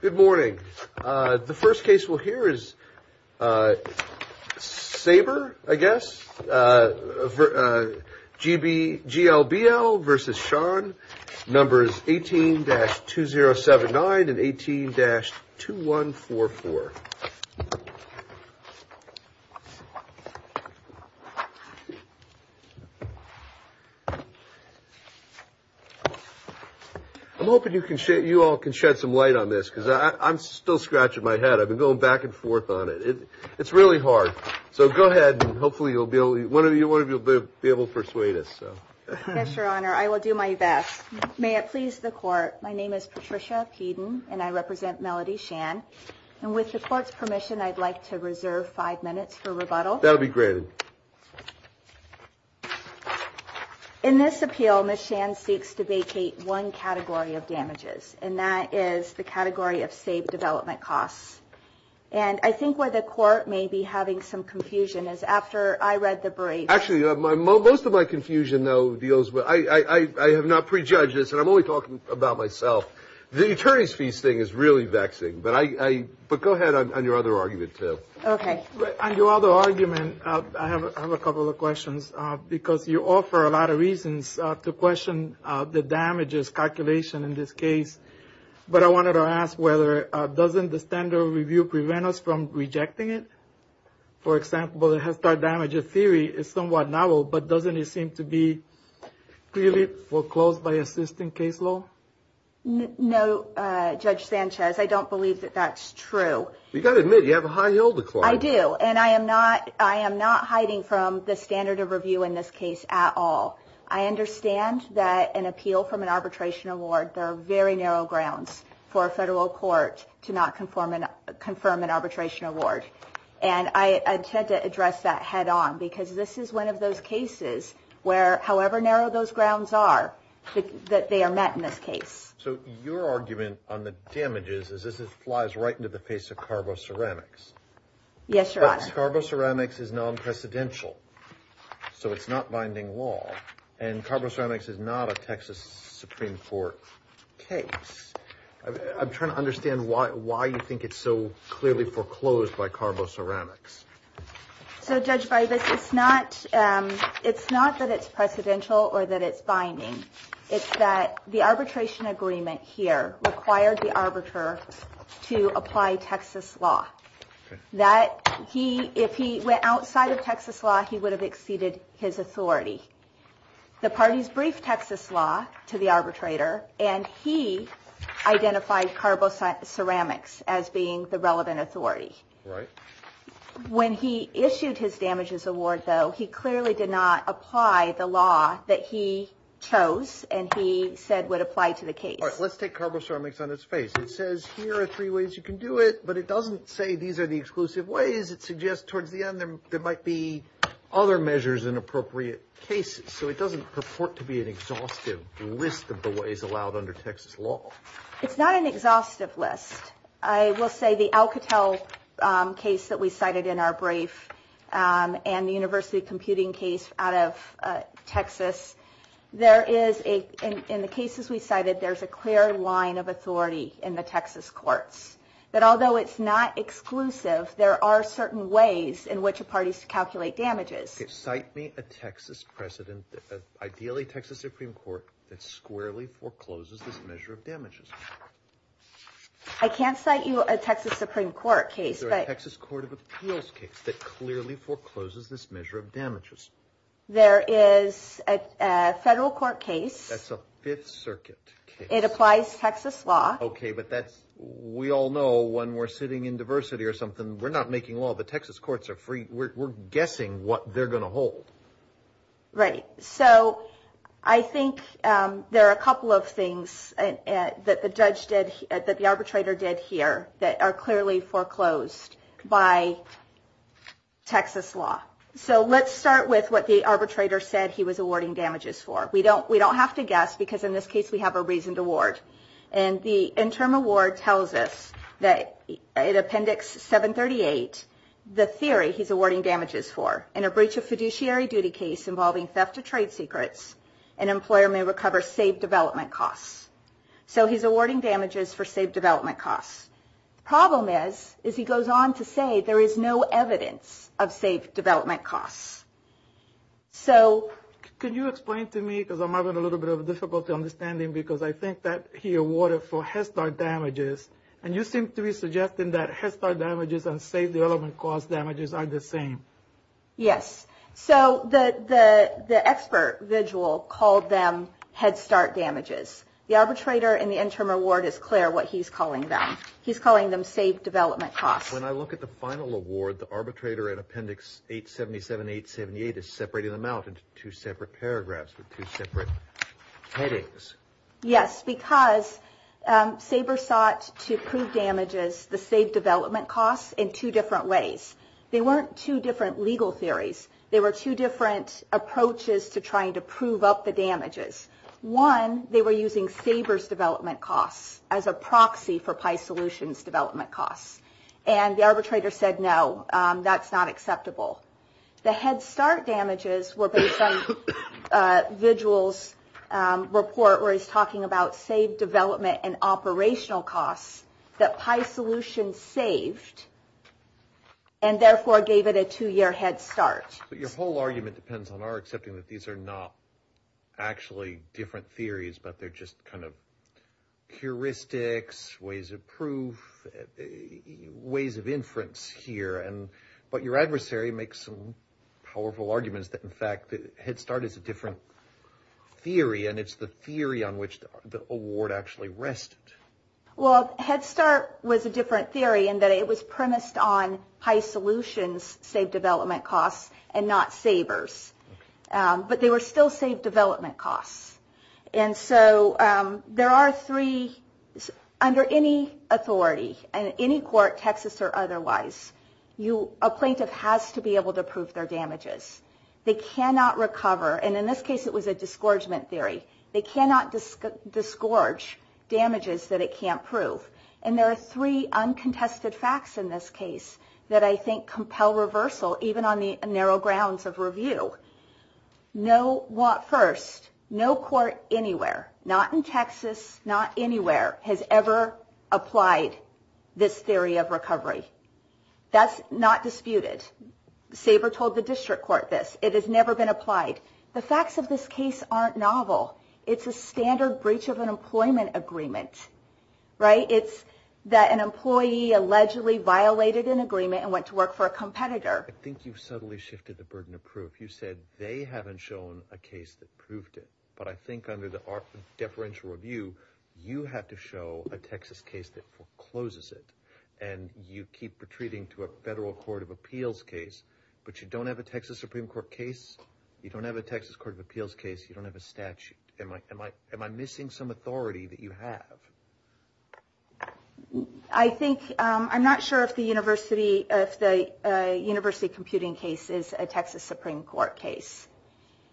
Good morning. The first case we'll hear is Sabre, I guess, G.L.B.L. v. Shan. Numbers 18-2079 and 18-2144. I'm hoping you all can shed some light on this because I'm still scratching my head. I've been going back and forth on it. It's really hard. So go ahead and hopefully one of you will be able to persuade us. Yes, Your Honor. I will do my best. May it please the Court. My name is Patricia Peden and I represent Melody Shan. And with the Court's permission, I'd like to reserve five minutes for rebuttal. That'll be granted. In this appeal, Ms. Shan seeks to vacate one category of damages, and that is the category of saved development costs. And I think where the Court may be having some confusion is after I read the brief. Actually, most of my confusion, though, deals with – I have not prejudged this, and I'm only talking about myself. The attorneys' fees thing is really vexing. But I – but go ahead on your other argument, too. Okay. On your other argument, I have a couple of questions, because you offer a lot of reasons to question the damages calculation in this case. But I wanted to ask whether – doesn't the standard review prevent us from rejecting it? For example, the Head Start damage theory is somewhat novel, but doesn't it seem to be clearly foreclosed by existing case law? No, Judge Sanchez. I don't believe that that's true. You've got to admit, you have a high hill to climb. I do. And I am not hiding from the standard of review in this case at all. I understand that an appeal from an arbitration award, there are very narrow grounds for a federal court to not confirm an arbitration award. And I intend to address that head on, because this is one of those cases where, however narrow those grounds are, that they are met in this case. So your argument on the damages is this flies right into the face of carbo-ceramics. Yes, Your Honor. But carbo-ceramics is non-precedential, so it's not binding law. And carbo-ceramics is not a Texas Supreme Court case. I'm trying to understand why you think it's so clearly foreclosed by carbo-ceramics. So, Judge Bybus, it's not that it's precedential or that it's binding. It's that the arbitration agreement here required the arbiter to apply Texas law. If he went outside of Texas law, he would have exceeded his authority. The parties briefed Texas law to the arbitrator, and he identified carbo-ceramics as being the relevant authority. Right. When he issued his damages award, though, he clearly did not apply the law that he chose and he said would apply to the case. All right. Let's take carbo-ceramics on its face. It says here are three ways you can do it, but it doesn't say these are the exclusive ways. It suggests towards the end there might be other measures in appropriate cases. So it doesn't purport to be an exhaustive list of the ways allowed under Texas law. It's not an exhaustive list. I will say the Alcatel case that we cited in our brief and the university computing case out of Texas, there is, in the cases we cited, there's a clear line of authority in the Texas courts that although it's not exclusive, there are certain ways in which a party can calculate damages. Cite me a Texas president, ideally Texas Supreme Court, that squarely forecloses this measure of damages. I can't cite you a Texas Supreme Court case. There's a Texas Court of Appeals case that clearly forecloses this measure of damages. There is a federal court case. That's a Fifth Circuit case. It applies Texas law. Okay, but we all know when we're sitting in diversity or something, we're not making law. The Texas courts are free. We're guessing what they're going to hold. Right. So I think there are a couple of things that the arbitrator did here that are clearly foreclosed by Texas law. So let's start with what the arbitrator said he was awarding damages for. We don't have to guess, because in this case we have a reasoned award. And the interim award tells us that in Appendix 738, the theory he's awarding damages for, in a breach of fiduciary duty case involving theft of trade secrets, an employer may recover saved development costs. So he's awarding damages for saved development costs. The problem is, is he goes on to say there is no evidence of saved development costs. Can you explain to me, because I'm having a little bit of a difficulty understanding, because I think that he awarded for Head Start damages, and you seem to be suggesting that Head Start damages and saved development costs damages are the same. Yes. So the expert vigil called them Head Start damages. The arbitrator in the interim award is clear what he's calling them. He's calling them saved development costs. When I look at the final award, the arbitrator in Appendix 877-878 is separating them out into two separate paragraphs, with two separate headings. Yes, because Saber sought to prove damages, the saved development costs, in two different ways. They weren't two different legal theories. They were two different approaches to trying to prove up the damages. One, they were using Saber's development costs as a proxy for PISolution's development costs. And the arbitrator said, no, that's not acceptable. The Head Start damages were based on Vigil's report, where he's talking about saved development and operational costs that PISolution saved, and therefore gave it a two-year Head Start. But your whole argument depends on our accepting that these are not actually different theories, but they're just kind of heuristics, ways of proof, ways of inference here. But your adversary makes some powerful arguments that, in fact, Head Start is a different theory, and it's the theory on which the award actually rested. Well, Head Start was a different theory, in that it was premised on PISolution's saved development costs, and not Saber's. But they were still saved development costs. And so there are three. Under any authority, in any court, Texas or otherwise, a plaintiff has to be able to prove their damages. They cannot recover, and in this case it was a disgorgement theory. They cannot disgorge damages that it can't prove. And there are three uncontested facts in this case that I think compel reversal, even on the narrow grounds of review. First, no court anywhere, not in Texas, not anywhere, has ever applied this theory of recovery. That's not disputed. Saber told the district court this. It has never been applied. The facts of this case aren't novel. It's a standard breach of an employment agreement, right? It's that an employee allegedly violated an agreement and went to work for a competitor. I think you've subtly shifted the burden of proof. You said they haven't shown a case that proved it. But I think under the art of deferential review, you have to show a Texas case that forecloses it, and you keep retreating to a federal court of appeals case. But you don't have a Texas Supreme Court case. You don't have a Texas court of appeals case. You don't have a statute. Am I missing some authority that you have? I think I'm not sure if the university computing case is a Texas Supreme Court case.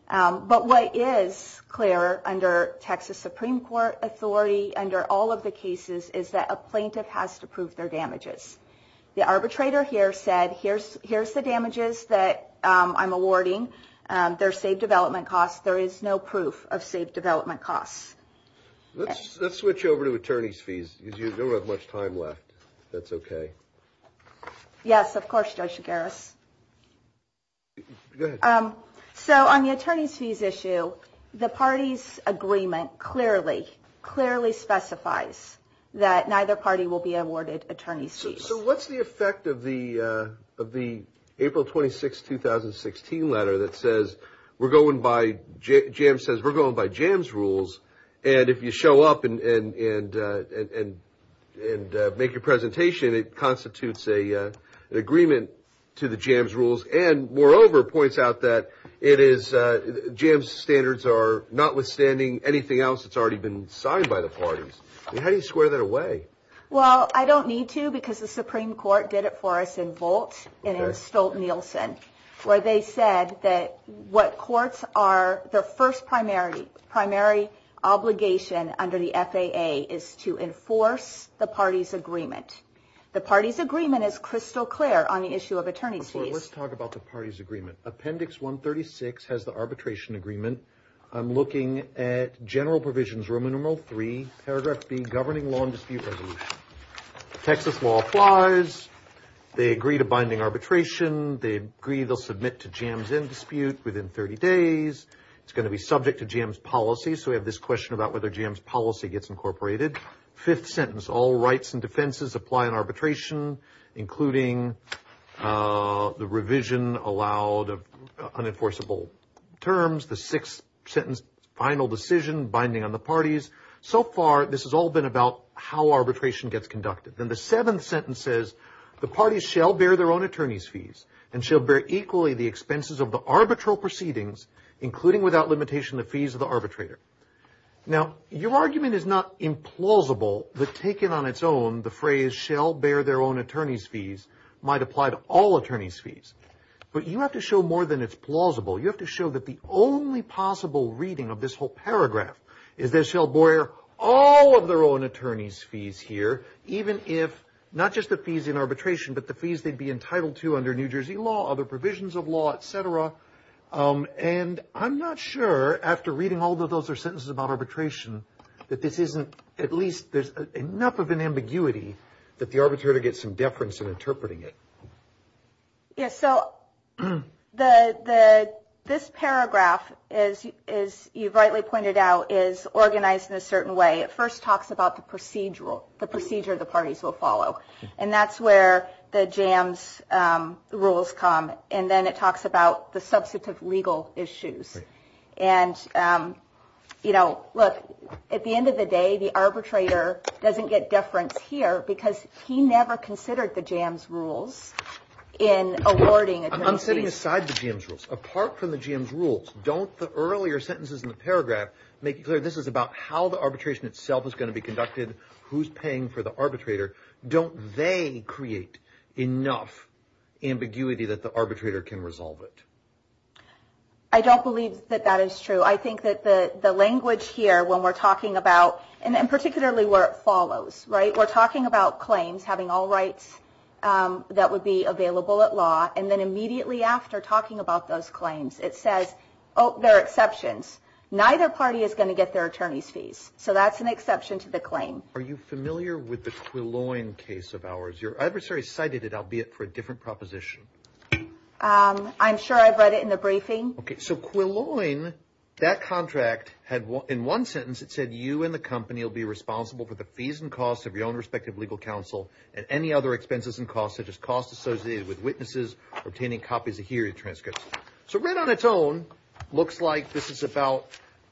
But what is clear under Texas Supreme Court authority under all of the cases is that a plaintiff has to prove their damages. The arbitrator here said, here's the damages that I'm awarding. They're saved development costs. There is no proof of saved development costs. Let's switch over to attorney's fees, because you don't have much time left. If that's OK. Yes, of course, Judge Garris. Go ahead. So on the attorney's fees issue, the party's agreement clearly, clearly specifies that neither party will be awarded attorney's fees. So what's the effect of the April 26, 2016 letter that says we're going by, JAMS says we're going by JAMS rules, and if you show up and make your presentation, it constitutes an agreement to the JAMS rules, and moreover points out that it is, JAMS standards are notwithstanding anything else that's already been signed by the parties. How do you square that away? Well, I don't need to, because the Supreme Court did it for us in Volt and in Stolt-Nielsen, where they said that what courts are, their first primary obligation under the FAA is to enforce the party's agreement. The party's agreement is crystal clear on the issue of attorney's fees. Let's talk about the party's agreement. Appendix 136 has the arbitration agreement. I'm looking at General Provisions, Roman numeral 3, paragraph B, Governing Law and Dispute Resolution. Texas law applies. They agree to binding arbitration. They agree they'll submit to JAMS in dispute within 30 days. It's going to be subject to JAMS policy, so we have this question about whether JAMS policy gets incorporated. Fifth sentence, all rights and defenses apply in arbitration, including the revision allowed of unenforceable terms. The sixth sentence, final decision, binding on the parties. So far, this has all been about how arbitration gets conducted. Then the seventh sentence says, the parties shall bear their own attorney's fees and shall bear equally the expenses of the arbitral proceedings, including without limitation the fees of the arbitrator. Now, your argument is not implausible, but taken on its own, the phrase shall bear their own attorney's fees might apply to all attorney's fees. But you have to show more than it's plausible. You have to show that the only possible reading of this whole paragraph is they shall bear all of their own attorney's fees here, even if not just the fees in arbitration, but the fees they'd be entitled to under New Jersey law, other provisions of law, et cetera. And I'm not sure, after reading all of those sentences about arbitration, that this isn't at least there's enough of an ambiguity that the arbitrator gets some deference in interpreting it. Yes, so this paragraph, as you've rightly pointed out, is organized in a certain way. It first talks about the procedure the parties will follow, and that's where the JAMS rules come, and then it talks about the substantive legal issues. And, you know, look, at the end of the day, the arbitrator doesn't get deference here because he never considered the JAMS rules in awarding attorney's fees. I'm setting aside the JAMS rules. Apart from the JAMS rules, don't the earlier sentences in the paragraph make it clear this is about how the arbitration itself is going to be conducted, who's paying for the arbitrator, don't they create enough ambiguity that the arbitrator can resolve it? I don't believe that that is true. I think that the language here when we're talking about, and particularly where it follows, right, we're talking about claims having all rights that would be available at law, and then immediately after talking about those claims, it says, oh, there are exceptions. Neither party is going to get their attorney's fees. So that's an exception to the claim. Are you familiar with the Quilloin case of ours? Your adversary cited it, albeit for a different proposition. I'm sure I've read it in the briefing. Okay, so Quilloin, that contract, in one sentence it said you and the company will be responsible for the fees and costs of your own respective legal counsel and any other expenses and costs such as costs associated with witnesses obtaining copies of hearing transcripts. So read on its own, looks like this is about,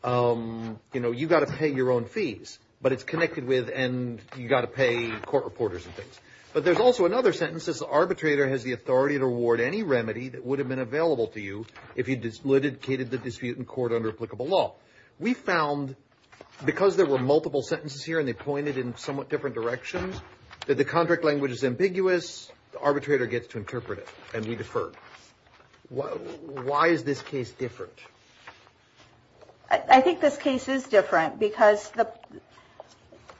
you know, you've got to pay your own fees, but it's connected with and you've got to pay court reporters and things. But there's also another sentence. This arbitrator has the authority to award any remedy that would have been available to you if he'd litigated the dispute in court under applicable law. We found because there were multiple sentences here and they pointed in somewhat different directions, that the contract language is ambiguous, the arbitrator gets to interpret it, and we deferred. Why is this case different? I think this case is different because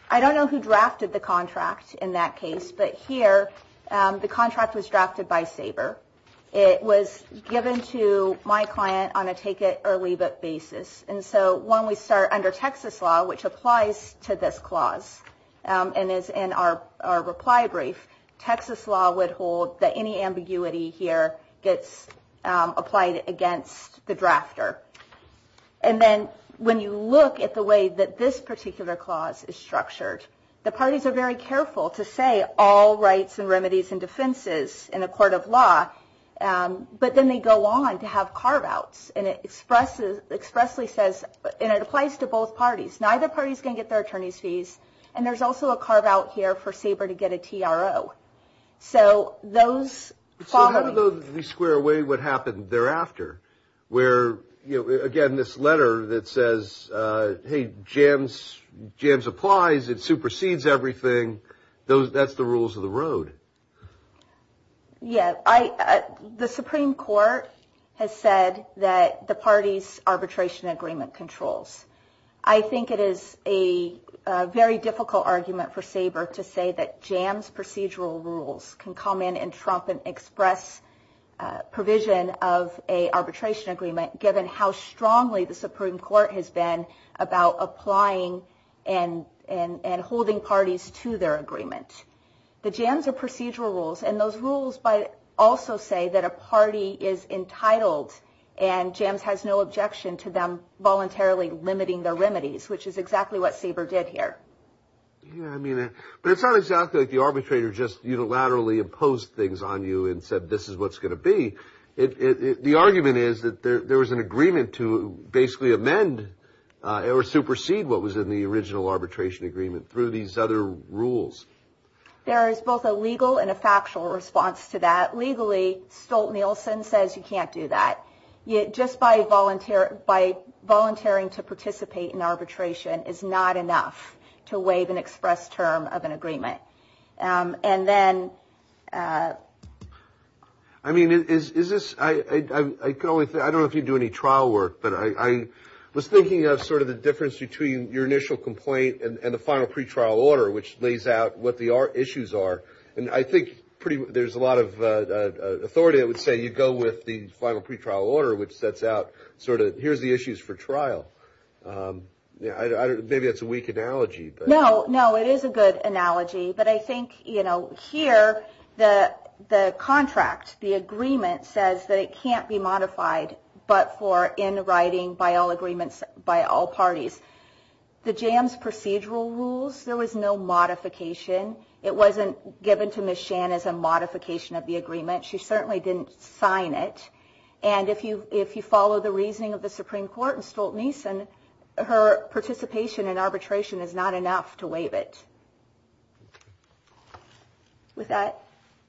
I don't know who drafted the contract in that case, but here the contract was drafted by Sabre. It was given to my client on a take-it-or-leave-it basis. And so when we start under Texas law, which applies to this clause, and is in our reply brief, Texas law would hold that any ambiguity here gets applied against the drafter. And then when you look at the way that this particular clause is structured, the parties are very careful to say all rights and remedies and defenses in a court of law, but then they go on to have carve-outs, and it expressly says, and it applies to both parties, neither party is going to get their attorney's fees, and there's also a carve-out here for Sabre to get a TRO. So how do we square away what happened thereafter? Where, again, this letter that says, hey, JAMS applies, it supersedes everything, that's the rules of the road. Yeah. The Supreme Court has said that the parties' arbitration agreement controls. I think it is a very difficult argument for Sabre to say that JAMS procedural rules can come in and trump an express provision of a arbitration agreement, given how strongly the Supreme Court has been about applying and holding parties to their agreement. The JAMS are procedural rules, and those rules also say that a party is entitled and JAMS has no objection to them voluntarily limiting their remedies, which is exactly what Sabre did here. Yeah, I mean, but it's not exactly like the arbitrator just unilaterally imposed things on you and said this is what's going to be. The argument is that there was an agreement to basically amend or supersede what was in the original arbitration agreement through these other rules. There is both a legal and a factual response to that. Legally, Stolt-Nielsen says you can't do that. Yet just by volunteering to participate in arbitration is not enough to waive an express term of an agreement. And then – I mean, is this – I don't know if you do any trial work, but I was thinking of sort of the difference between your initial complaint and the final pretrial order, which lays out what the issues are. And I think there's a lot of authority that would say you go with the final pretrial order, which sets out sort of here's the issues for trial. Maybe that's a weak analogy. No, no, it is a good analogy. But I think, you know, here the contract, the agreement, says that it can't be modified but for in writing by all agreements by all parties. The JAMS procedural rules, there was no modification. It wasn't given to Ms. Shan as a modification of the agreement. She certainly didn't sign it. And if you follow the reasoning of the Supreme Court in Stolt-Nielsen, her participation in arbitration is not enough to waive it. With that.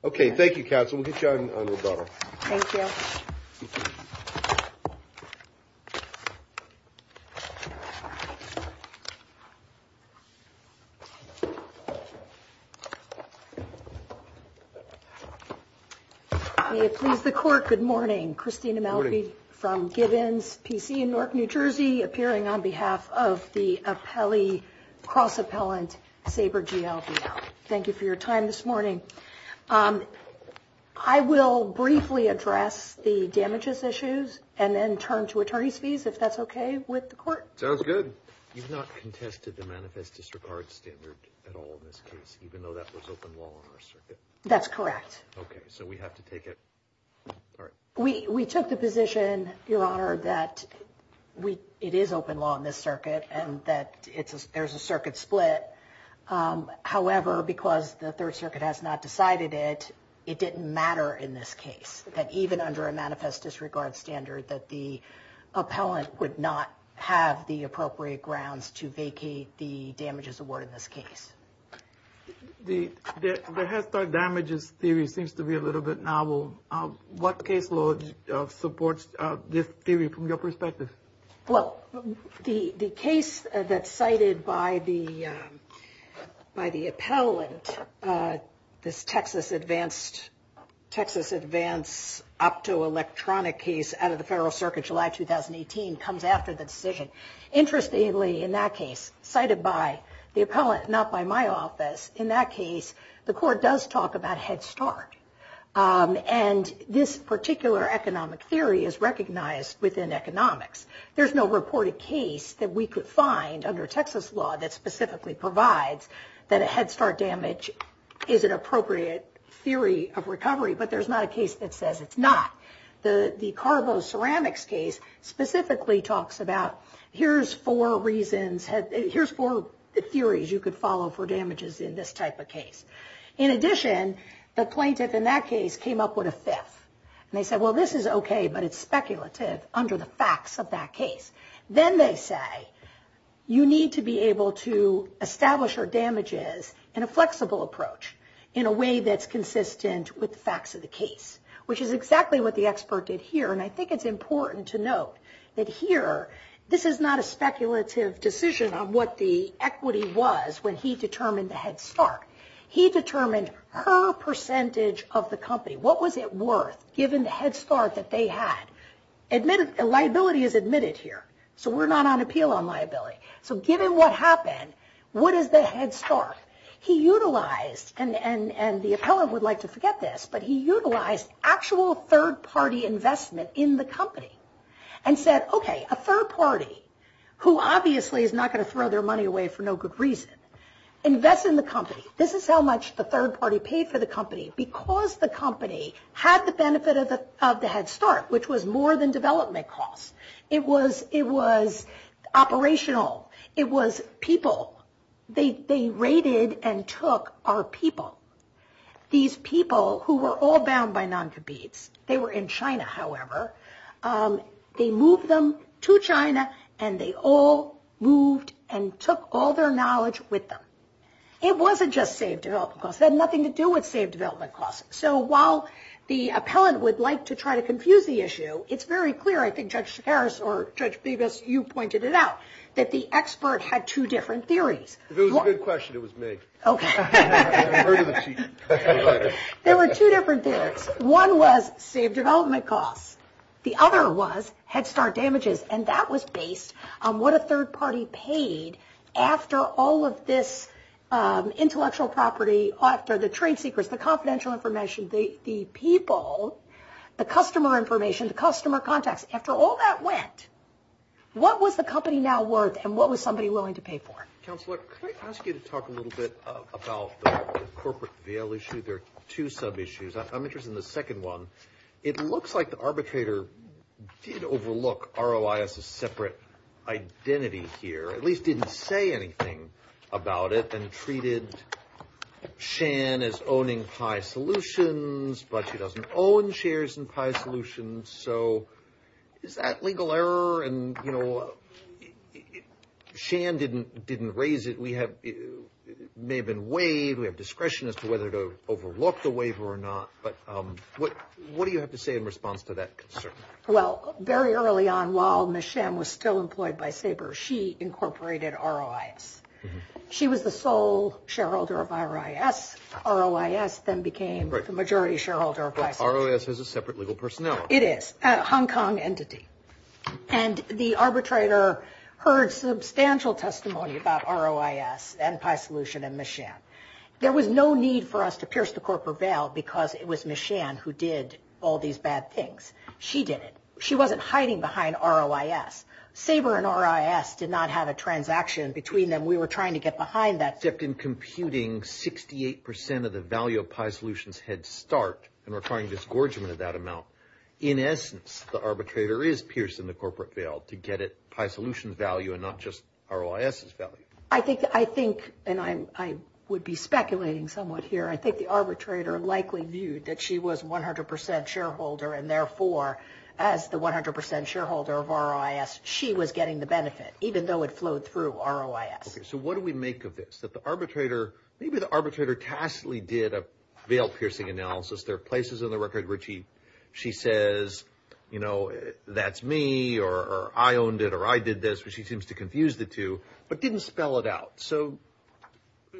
Okay. Thank you, counsel. We'll get you on rebuttal. Thank you. Thank you. May it please the Court, good morning. Christina Malfi from Gibbons PC in Newark, New Jersey, appearing on behalf of the cross-appellant Sabre GLB. Thank you for your time this morning. I will briefly address the damages issues and then turn to attorney's fees if that's okay with the Court. Sounds good. You've not contested the manifest disregard standard at all in this case, even though that was open law on our circuit. That's correct. Okay. So we have to take it. All right. We took the position, Your Honor, that it is open law on this circuit and that there's a circuit split. However, because the Third Circuit has not decided it, it didn't matter in this case that even under a manifest disregard standard, that the appellant would not have the appropriate grounds to vacate the damages award in this case. The head start damages theory seems to be a little bit novel. What case law supports this theory from your perspective? Well, the case that's cited by the appellant, this Texas advanced optoelectronic case out of the Federal Circuit July 2018 comes after the decision. Interestingly, in that case, cited by the appellant, not by my office, in that case, the Court does talk about head start. And this particular economic theory is recognized within economics. There's no reported case that we could find under Texas law that specifically provides that a head start damage is an appropriate theory of recovery, but there's not a case that says it's not. The Carbo Ceramics case specifically talks about here's four reasons, here's four theories you could follow for damages in this type of case. In addition, the plaintiff in that case came up with a fifth. And they said, well, this is okay, but it's speculative under the facts of that case. Then they say you need to be able to establish your damages in a flexible approach in a way that's consistent with the facts of the case, which is exactly what the expert did here. And I think it's important to note that here this is not a speculative decision on what the equity was when he determined the head start. He determined her percentage of the company, what was it worth given the head start that they had. Liability is admitted here, so we're not on appeal on liability. So given what happened, what is the head start? He utilized, and the appellate would like to forget this, but he utilized actual third-party investment in the company and said, okay, a third party, who obviously is not going to throw their money away for no good reason, invest in the company. This is how much the third party paid for the company, because the company had the benefit of the head start, which was more than development costs. It was operational. It was people. They raided and took our people, these people who were all bound by non-competes. They were in China, however. They moved them to China, and they all moved and took all their knowledge with them. It wasn't just save development costs. It had nothing to do with save development costs. So while the appellate would like to try to confuse the issue, it's very clear, I think Judge Harris or Judge Bevis, you pointed it out, that the expert had two different theories. It was a good question. It was me. Okay. I've heard of it. There were two different theories. One was save development costs. The other was head start damages, and that was based on what a third party paid after all of this intellectual property, after the trade secrets, the confidential information, the people, the customer information, the customer contacts. After all that went, what was the company now worth, and what was somebody willing to pay for it? Counselor, can I ask you to talk a little bit about the corporate veil issue? There are two sub-issues. I'm interested in the second one. It looks like the arbitrator did overlook ROI as a separate identity here, at least didn't say anything about it, and treated Shan as owning Pi Solutions, but she doesn't own shares in Pi Solutions. So is that legal error? And, you know, Shan didn't raise it. It may have been waived. We have discretion as to whether to overlook the waiver or not. But what do you have to say in response to that concern? Well, very early on, while Ms. Shan was still employed by Sabre, she incorporated ROIS. She was the sole shareholder of ROIS. ROIS then became the majority shareholder of Pi Solutions. But ROIS has a separate legal personnel. It is, a Hong Kong entity. And the arbitrator heard substantial testimony about ROIS and Pi Solutions and Ms. Shan. There was no need for us to pierce the corporate veil because it was Ms. Shan who did all these bad things. She did it. She wasn't hiding behind ROIS. Sabre and ROIS did not have a transaction between them. We were trying to get behind that. Except in computing 68% of the value of Pi Solutions' head start and requiring disgorgement of that amount, in essence, the arbitrator is pierced in the corporate veil to get at Pi Solutions' value and not just ROIS' value. I think, and I would be speculating somewhat here, I think the arbitrator likely viewed that she was 100% shareholder and, therefore, as the 100% shareholder of ROIS, she was getting the benefit, even though it flowed through ROIS. Okay, so what do we make of this? That the arbitrator, maybe the arbitrator tacitly did a veil-piercing analysis. There are places on the record where she says, you know, that's me or I owned it or I did this, which she seems to confuse the two, but didn't spell it out. So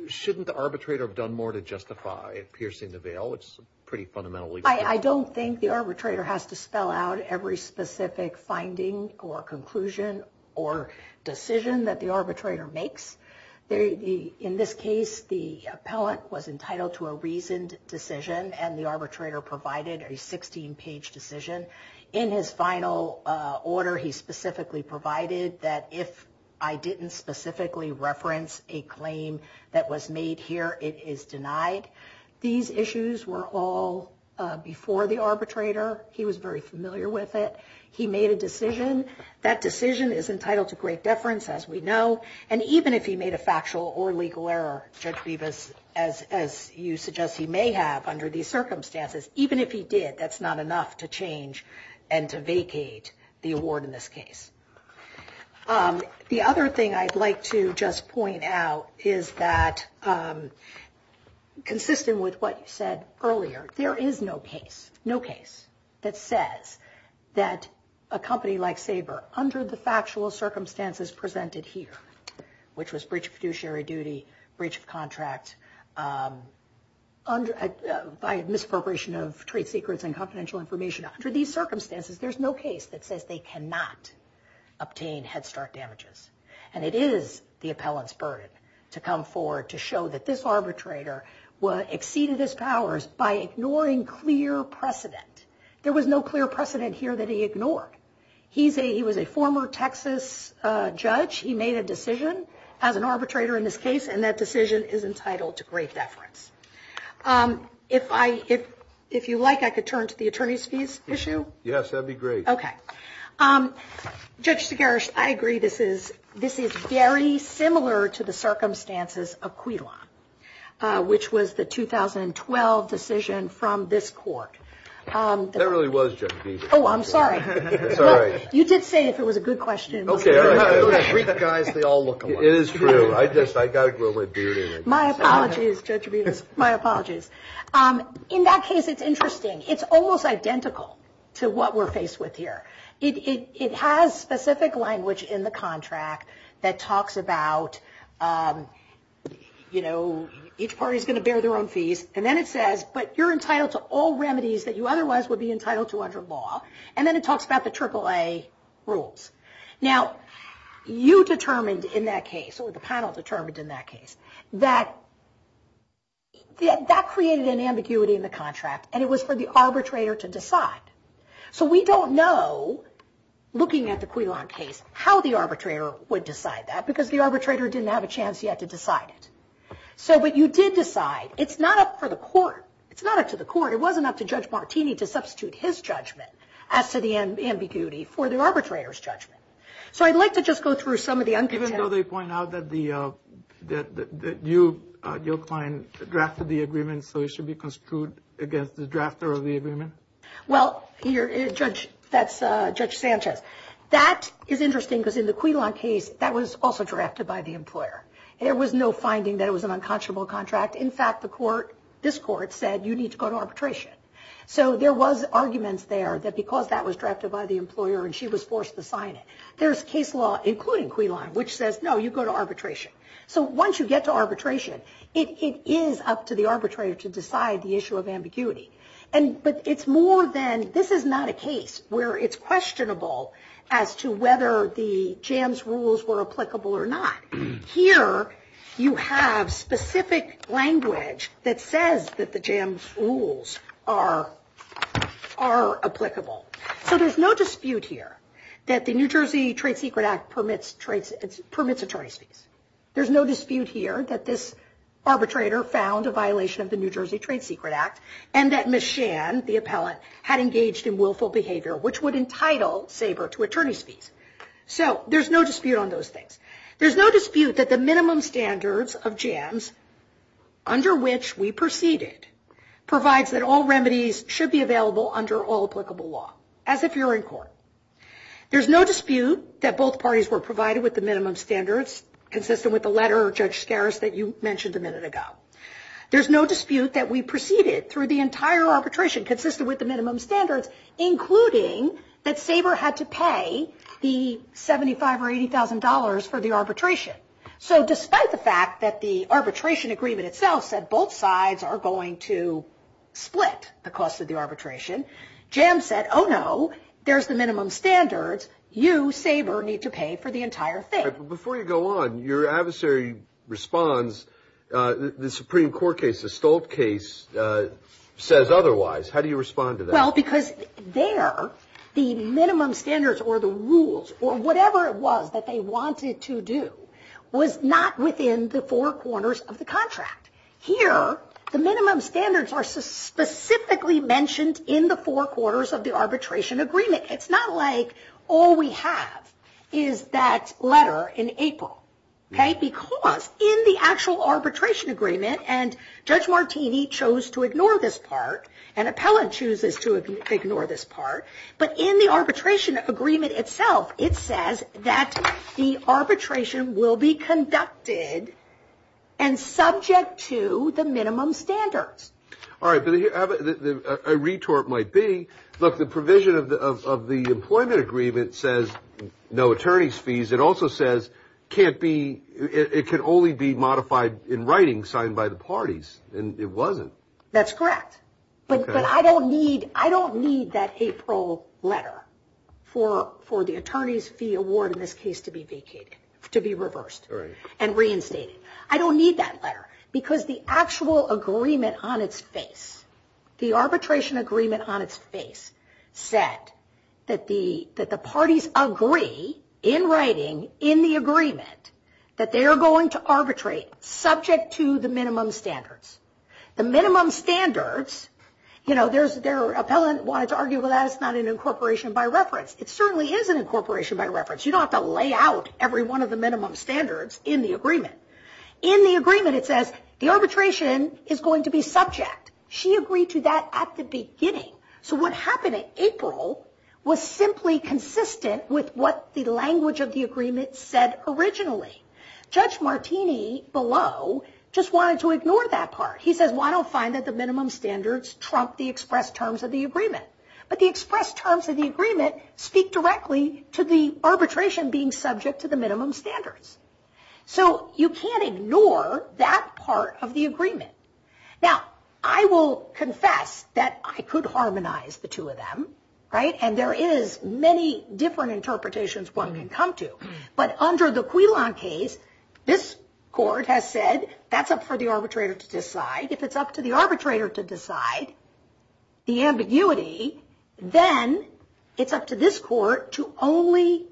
shouldn't the arbitrator have done more to justify piercing the veil? It's pretty fundamentally clear. I don't think the arbitrator has to spell out every specific finding or conclusion or decision that the arbitrator makes. In this case, the appellant was entitled to a reasoned decision, and the arbitrator provided a 16-page decision. In his final order, he specifically provided that if I didn't specifically reference a claim that was made here, it is denied. These issues were all before the arbitrator. He was very familiar with it. He made a decision. That decision is entitled to great deference, as we know, and even if he made a factual or legal error, Judge Bevis, as you suggest he may have under these circumstances, even if he did, that's not enough to change and to vacate the award in this case. The other thing I'd like to just point out is that, consistent with what you said earlier, there is no case, no case, that says that a company like Sabre, under the factual circumstances presented here, which was breach of fiduciary duty, breach of contract, by misappropriation of trade secrets and confidential information, under these circumstances, there's no case that says they cannot obtain Head Start damages. And it is the appellant's burden to come forward to show that this arbitrator exceeded his powers by ignoring clear precedent. There was no clear precedent here that he ignored. He was a former Texas judge. He made a decision as an arbitrator in this case, and that decision is entitled to great deference. If you like, I could turn to the attorney's fees issue. Yes, that would be great. Judge Sigaris, I agree this is very similar to the circumstances of Quilon, which was the 2012 decision from this court. That really was Judge Bevis. Oh, I'm sorry. You did say if it was a good question. Okay, all right. Don't aggrieve the guys. They all look alike. It is true. I just got to grow my beard. My apologies, Judge Bevis. My apologies. In that case, it's interesting. It's almost identical to what we're faced with here. It has specific language in the contract that talks about, you know, each party's going to bear their own fees. And then it says, but you're entitled to all remedies that you otherwise would be entitled to under law. And then it talks about the AAA rules. Now, you determined in that case, or the panel determined in that case, that that created an ambiguity in the contract, and it was for the arbitrator to decide. So we don't know, looking at the Quilon case, how the arbitrator would decide that, because the arbitrator didn't have a chance yet to decide it. But you did decide. It's not up for the court. It's not up to the court. It wasn't up to Judge Martini to substitute his judgment as to the ambiguity for the arbitrator's judgment. So I'd like to just go through some of the uncontentions. Even though they point out that you, your client, drafted the agreement, so it should be construed against the drafter of the agreement? Well, that's Judge Sanchez. That is interesting, because in the Quilon case, that was also drafted by the employer. There was no finding that it was an unconscionable contract. In fact, this court said, you need to go to arbitration. So there was arguments there that because that was drafted by the employer and she was forced to sign it. There's case law, including Quilon, which says, no, you go to arbitration. So once you get to arbitration, it is up to the arbitrator to decide the issue of ambiguity. But it's more than this is not a case where it's questionable as to whether the JAMS rules were applicable or not. Here, you have specific language that says that the JAMS rules are applicable. So there's no dispute here that the New Jersey Trade Secret Act permits attorney's fees. There's no dispute here that this arbitrator found a violation of the New Jersey Trade Secret Act, and that Ms. Shan, the appellant, had engaged in willful behavior, which would entitle Saber to attorney's fees. So there's no dispute on those things. There's no dispute that the minimum standards of JAMS, under which we proceeded, provides that all remedies should be available under all applicable law, as if you're in court. There's no dispute that both parties were provided with the minimum standards, consistent with the letter of Judge Scaris that you mentioned a minute ago. There's no dispute that we proceeded through the entire arbitration, consistent with the minimum standards, including that Saber had to pay the $75,000 or $80,000 for the arbitration. So despite the fact that the arbitration agreement itself said both sides are going to split the cost of the arbitration, JAMS said, oh no, there's the minimum standards. You, Saber, need to pay for the entire thing. Before you go on, your adversary responds. The Supreme Court case, the Stolt case, says otherwise. How do you respond to that? Well, because there, the minimum standards or the rules, or whatever it was that they wanted to do, was not within the four corners of the contract. Here, the minimum standards are specifically mentioned in the four corners of the arbitration agreement. It's not like all we have is that letter in April. Because in the actual arbitration agreement, and Judge Martini chose to ignore this part, and Appellant chooses to ignore this part, but in the arbitration agreement itself, it says that the arbitration will be conducted and subject to the minimum standards. All right, but a retort might be, look, the provision of the employment agreement says no attorney's fees. It also says it can only be modified in writing, signed by the parties, and it wasn't. That's correct, but I don't need that April letter for the attorney's fee award in this case to be vacated, to be reversed and reinstated. I don't need that letter because the actual agreement on its face, the arbitration agreement on its face, said that the parties agree in writing in the agreement that they are going to arbitrate subject to the minimum standards. The minimum standards, you know, Appellant wanted to argue that it's not an incorporation by reference. It certainly is an incorporation by reference. You don't have to lay out every one of the minimum standards in the agreement. In the agreement, it says the arbitration is going to be subject. She agreed to that at the beginning, so what happened in April was simply consistent with what the language of the agreement said originally. Judge Martini below just wanted to ignore that part. He says, well, I don't find that the minimum standards trump the express terms of the agreement, but the express terms of the agreement speak directly to the arbitration being subject to the minimum standards. So you can't ignore that part of the agreement. Now, I will confess that I could harmonize the two of them, right, and there is many different interpretations one can come to, but under the Quilon case, this court has said that's up for the arbitrator to decide. If it's up to the arbitrator to decide the ambiguity, then it's up to this court to only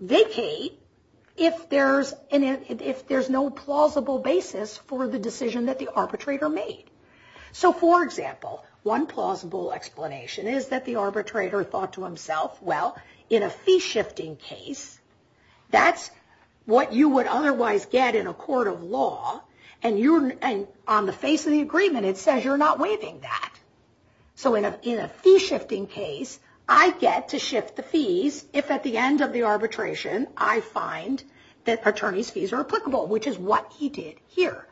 vacate if there's no plausible basis for the decision that the arbitrator made. So, for example, one plausible explanation is that the arbitrator thought to himself, well, in a fee-shifting case, that's what you would otherwise get in a court of law, and on the face of the agreement, it says you're not waiving that. So in a fee-shifting case, I get to shift the fees if at the end of the arbitration I find that attorney's fees are applicable, which is what he did here.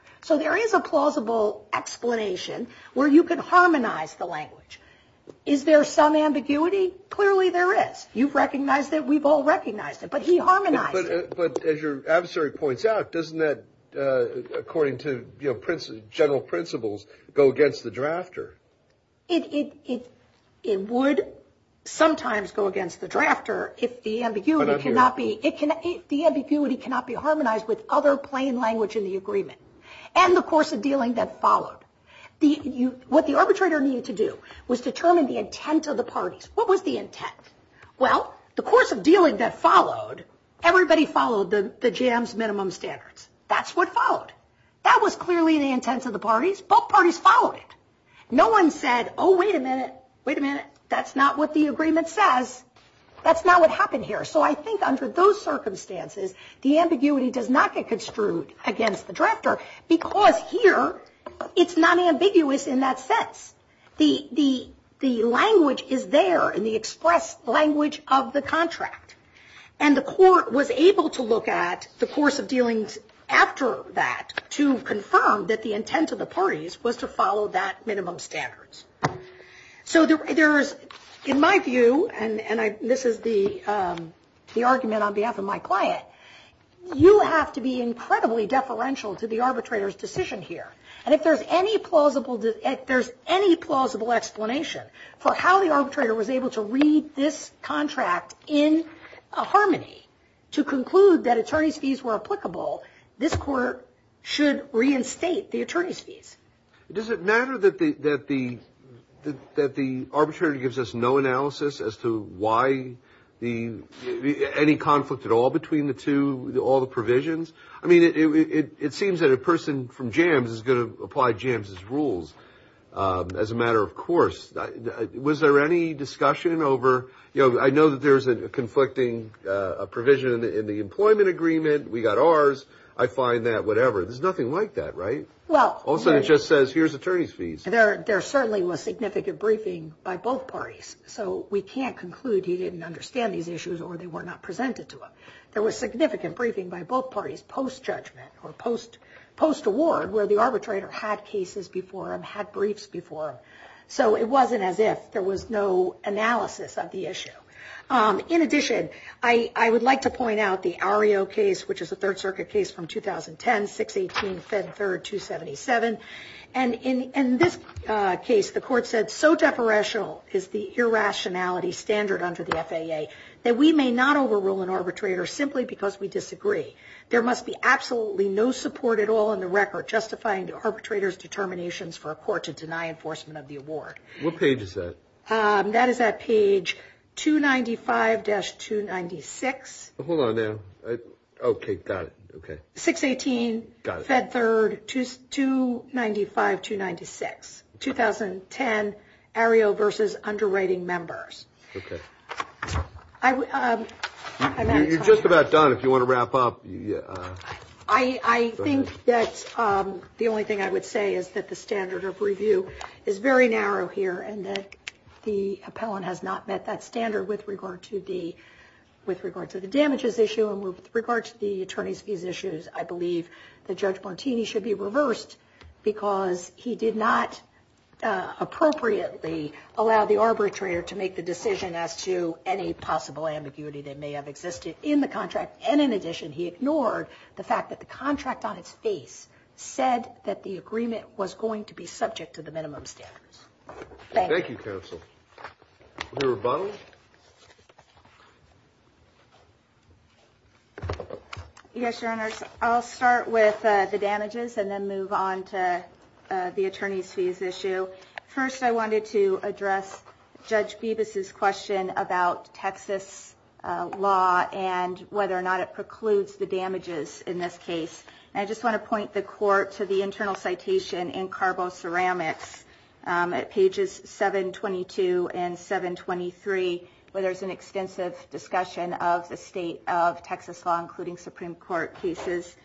where you can harmonize the language. Is there some ambiguity? Clearly there is. You've recognized it, we've all recognized it, but he harmonized it. But as your adversary points out, doesn't that, according to general principles, go against the drafter? It would sometimes go against the drafter if the ambiguity cannot be harmonized with other plain language in the agreement and the course of dealing that followed. What the arbitrator needed to do was determine the intent of the parties. What was the intent? Well, the course of dealing that followed, everybody followed the JAMS minimum standards. That's what followed. That was clearly the intent of the parties. Both parties followed it. No one said, oh, wait a minute, wait a minute, that's not what the agreement says. That's not what happened here. So I think under those circumstances, the ambiguity does not get construed against the drafter because here it's not ambiguous in that sense. The language is there in the express language of the contract. And the court was able to look at the course of dealings after that to confirm that the intent of the parties was to follow that minimum standards. So there's, in my view, and this is the argument on behalf of my client, you have to be incredibly deferential to the arbitrator's decision here. And if there's any plausible explanation for how the arbitrator was able to read this contract in harmony to conclude that attorney's fees were applicable, this court should reinstate the attorney's fees. Does it matter that the arbitrator gives us no analysis as to why any conflict at all between the two, all the provisions? I mean, it seems that a person from JAMS is going to apply JAMS's rules as a matter of course. Was there any discussion over, I know that there's a conflicting provision in the employment agreement. We got ours. I find that whatever. There's nothing like that, right? Also, it just says here's attorney's fees. There certainly was significant briefing by both parties. So we can't conclude he didn't understand these issues or they were not presented to him. There was significant briefing by both parties post-judgment or post-award where the arbitrator had cases before him, had briefs before him. So it wasn't as if there was no analysis of the issue. In addition, I would like to point out the Ario case, which is a Third Circuit case from 2010, 618, Fed 3rd, 277. And in this case, the court said, it's so deferential is the irrationality standard under the FAA that we may not overrule an arbitrator simply because we disagree. There must be absolutely no support at all in the record justifying the arbitrator's determinations for a court to deny enforcement of the award. What page is that? That is at page 295-296. Hold on now. Okay, got it. 618, Fed 3rd, 295-296. 2010, Ario versus underwriting members. Okay. You're just about done. If you want to wrap up. I think that the only thing I would say is that the standard of review is very narrow here and that the appellant has not met that standard with regard to the damages issue and with regard to the attorney's fees issues. I believe that Judge Montini should be reversed because he did not appropriately allow the arbitrator to make the decision as to any possible ambiguity that may have existed in the contract. And in addition, he ignored the fact that the contract on its face said that the agreement was going to be subject to the minimum standards. Thank you. Thank you, counsel. Rebuttal? Yes, Your Honors. I'll start with the damages and then move on to the attorney's fees issue. First, I wanted to address Judge Bibas's question about Texas law and whether or not it precludes the damages in this case. I just want to point the court to the internal citation in Carbo Ceramics at pages 722 and 723, where there's an extensive discussion of the state of Texas law, including Supreme Court cases.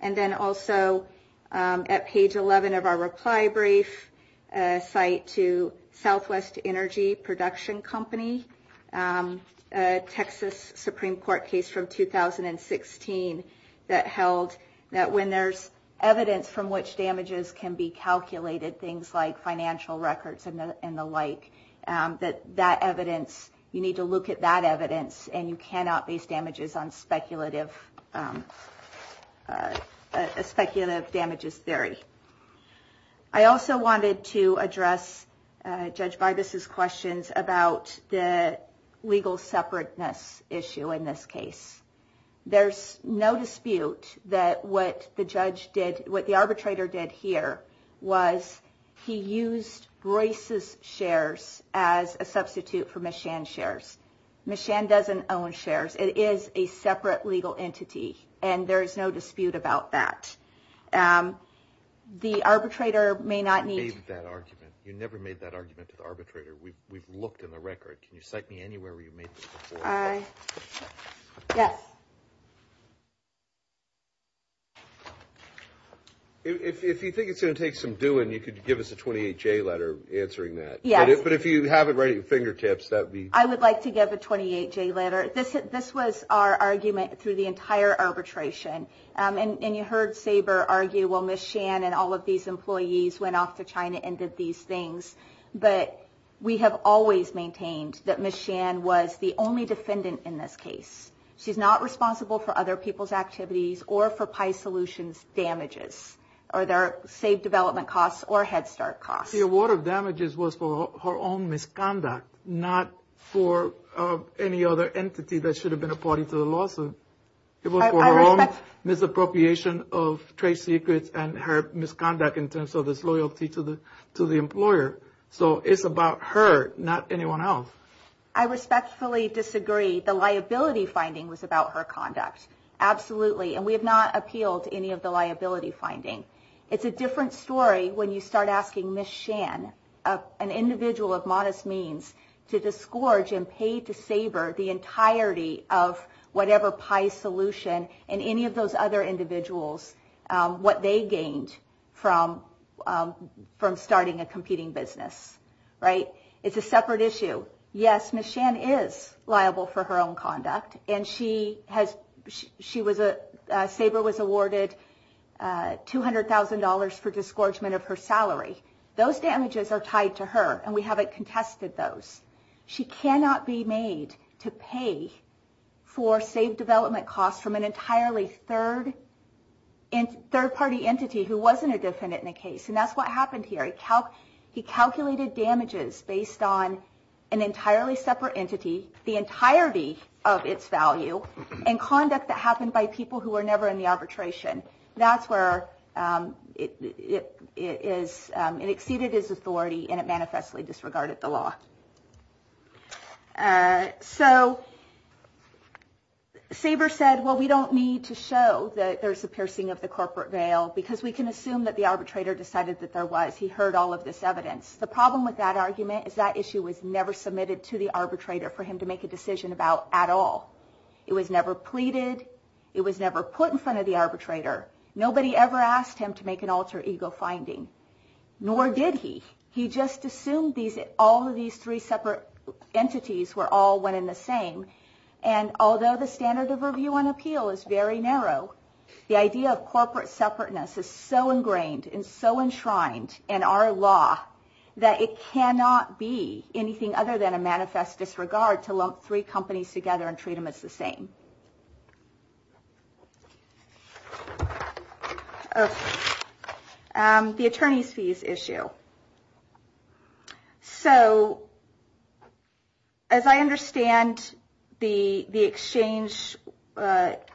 And then also at page 11 of our reply brief, a cite to Southwest Energy Production Company, a Texas Supreme Court case from 2016 that held that when there's evidence from which damages can be calculated, things like financial records and the like, that you need to look at that evidence and you cannot base damages on speculative damages theory. I also wanted to address Judge Bibas's questions about the legal separateness issue in this case. There's no dispute that what the arbitrator did here was he used Royce's shares as a substitute for Ms. Shan's shares. Ms. Shan doesn't own shares. It is a separate legal entity, and there is no dispute about that. The arbitrator may not need... You made that argument. You never made that argument to the arbitrator. We've looked in the record. Can you cite me anywhere where you made this before? Yes. If you think it's going to take some doing, you could give us a 28-J letter answering that. Yes. But if you have it right at your fingertips, that would be... I would like to give a 28-J letter. This was our argument through the entire arbitration. And you heard Saber argue, well, Ms. Shan and all of these employees went off to China and did these things. But we have always maintained that Ms. Shan was the only defendant in this case. She's not responsible for other people's activities or for Pi Solutions' damages or their saved development costs or Head Start costs. The award of damages was for her own misconduct, not for any other entity that should have been a party to the lawsuit. It was for her own misappropriation of trade secrets and her misconduct in terms of disloyalty to the employer. So it's about her, not anyone else. I respectfully disagree. The liability finding was about her conduct. Absolutely. And we have not appealed to any of the liability finding. It's a different story when you start asking Ms. Shan, an individual of modest means, to disgorge and pay to Saber the entirety of whatever Pi Solution and any of those other individuals, what they gained from starting a competing business. Right? It's a separate issue. Yes, Ms. Shan is liable for her own conduct, and Saber was awarded $200,000 for disgorgement of her salary. Those damages are tied to her, and we haven't contested those. She cannot be made to pay for saved development costs from an entirely third-party entity who wasn't a defendant in the case, and that's what happened here. He calculated damages based on an entirely separate entity, the entirety of its value, and conduct that happened by people who were never in the arbitration. That's where it exceeded his authority, and it manifestly disregarded the law. So Saber said, well, we don't need to show that there's a piercing of the corporate veil because we can assume that the arbitrator decided that there was. He heard all of this evidence. The problem with that argument is that issue was never submitted to the arbitrator for him to make a decision about at all. It was never pleaded. It was never put in front of the arbitrator. Nobody ever asked him to make an alter ego finding, nor did he. He just assumed all of these three separate entities were all one and the same, and although the standard of review on appeal is very narrow, the idea of corporate separateness is so ingrained and so enshrined in our law that it cannot be anything other than a manifest disregard to lump three companies together and treat them as the same. The attorney's fees issue. So as I understand the exchange that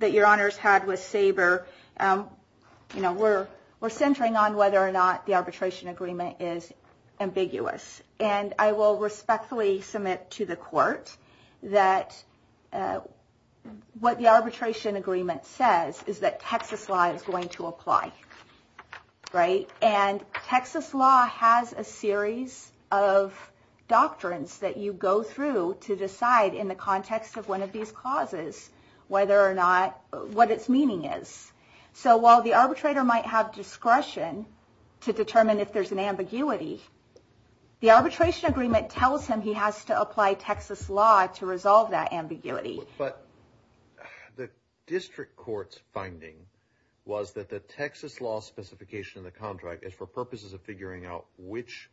your honors had with Saber, we're centering on whether or not the arbitration agreement is ambiguous, and I will respectfully submit to the court that what the arbitration agreement says is that Texas law is going to apply. And Texas law has a series of doctrines that you go through to decide in the context of one of these causes what its meaning is. So while the arbitrator might have discretion to determine if there's an ambiguity, the arbitration agreement tells him he has to apply Texas law to resolve that ambiguity. But the district court's finding was that the Texas law specification in the contract is for purposes of figuring out which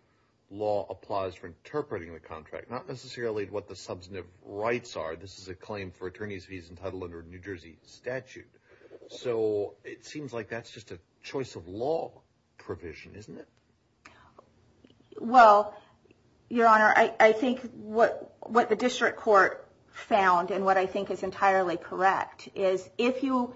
law applies for interpreting the contract, not necessarily what the substantive rights are. This is a claim for attorney's fees entitled under a New Jersey statute. So it seems like that's just a choice of law provision, isn't it? Well, your honor, I think what the district court found, and what I think is entirely correct, is if you...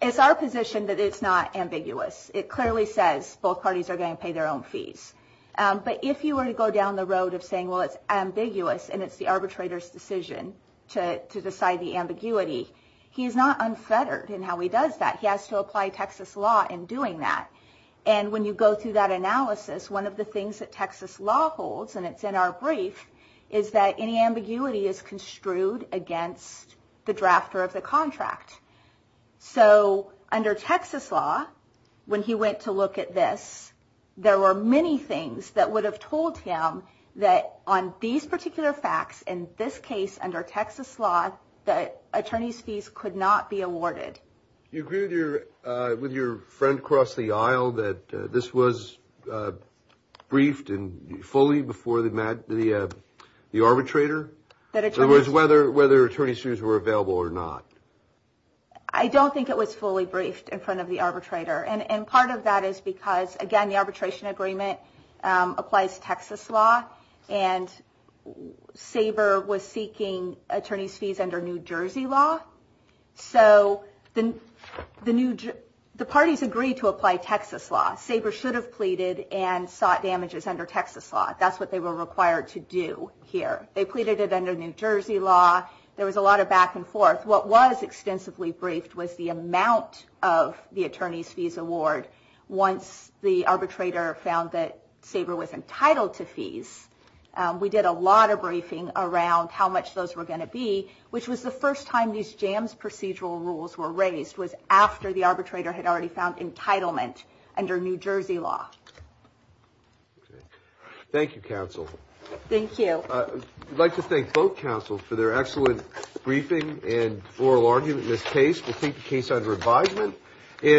It's our position that it's not ambiguous. It clearly says both parties are going to pay their own fees. But if you were to go down the road of saying, well, it's ambiguous and it's the arbitrator's decision to decide the ambiguity, he's not unfettered in how he does that. He has to apply Texas law in doing that. And when you go through that analysis, one of the things that Texas law holds, and it's in our brief, is that any ambiguity is construed against the drafter of the contract. So under Texas law, when he went to look at this, there were many things that would have told him that on these particular facts, in this case under Texas law, that attorney's fees could not be awarded. You agree with your friend across the aisle that this was briefed fully before the arbitrator? In other words, whether attorney's fees were available or not. I don't think it was fully briefed in front of the arbitrator. And part of that is because, again, the arbitration agreement applies Texas law, and Sabre was seeking attorney's fees under New Jersey law. So the parties agreed to apply Texas law. Sabre should have pleaded and sought damages under Texas law. That's what they were required to do here. They pleaded it under New Jersey law. There was a lot of back and forth. What was extensively briefed was the amount of the attorney's fees award once the arbitrator found that Sabre was entitled to fees. We did a lot of briefing around how much those were going to be, which was the first time these jams procedural rules were raised, was after the arbitrator had already found entitlement under New Jersey law. Thank you, counsel. Thank you. I'd like to thank both counsels for their excellent briefing and oral argument in this case. We'll keep the case under advisement.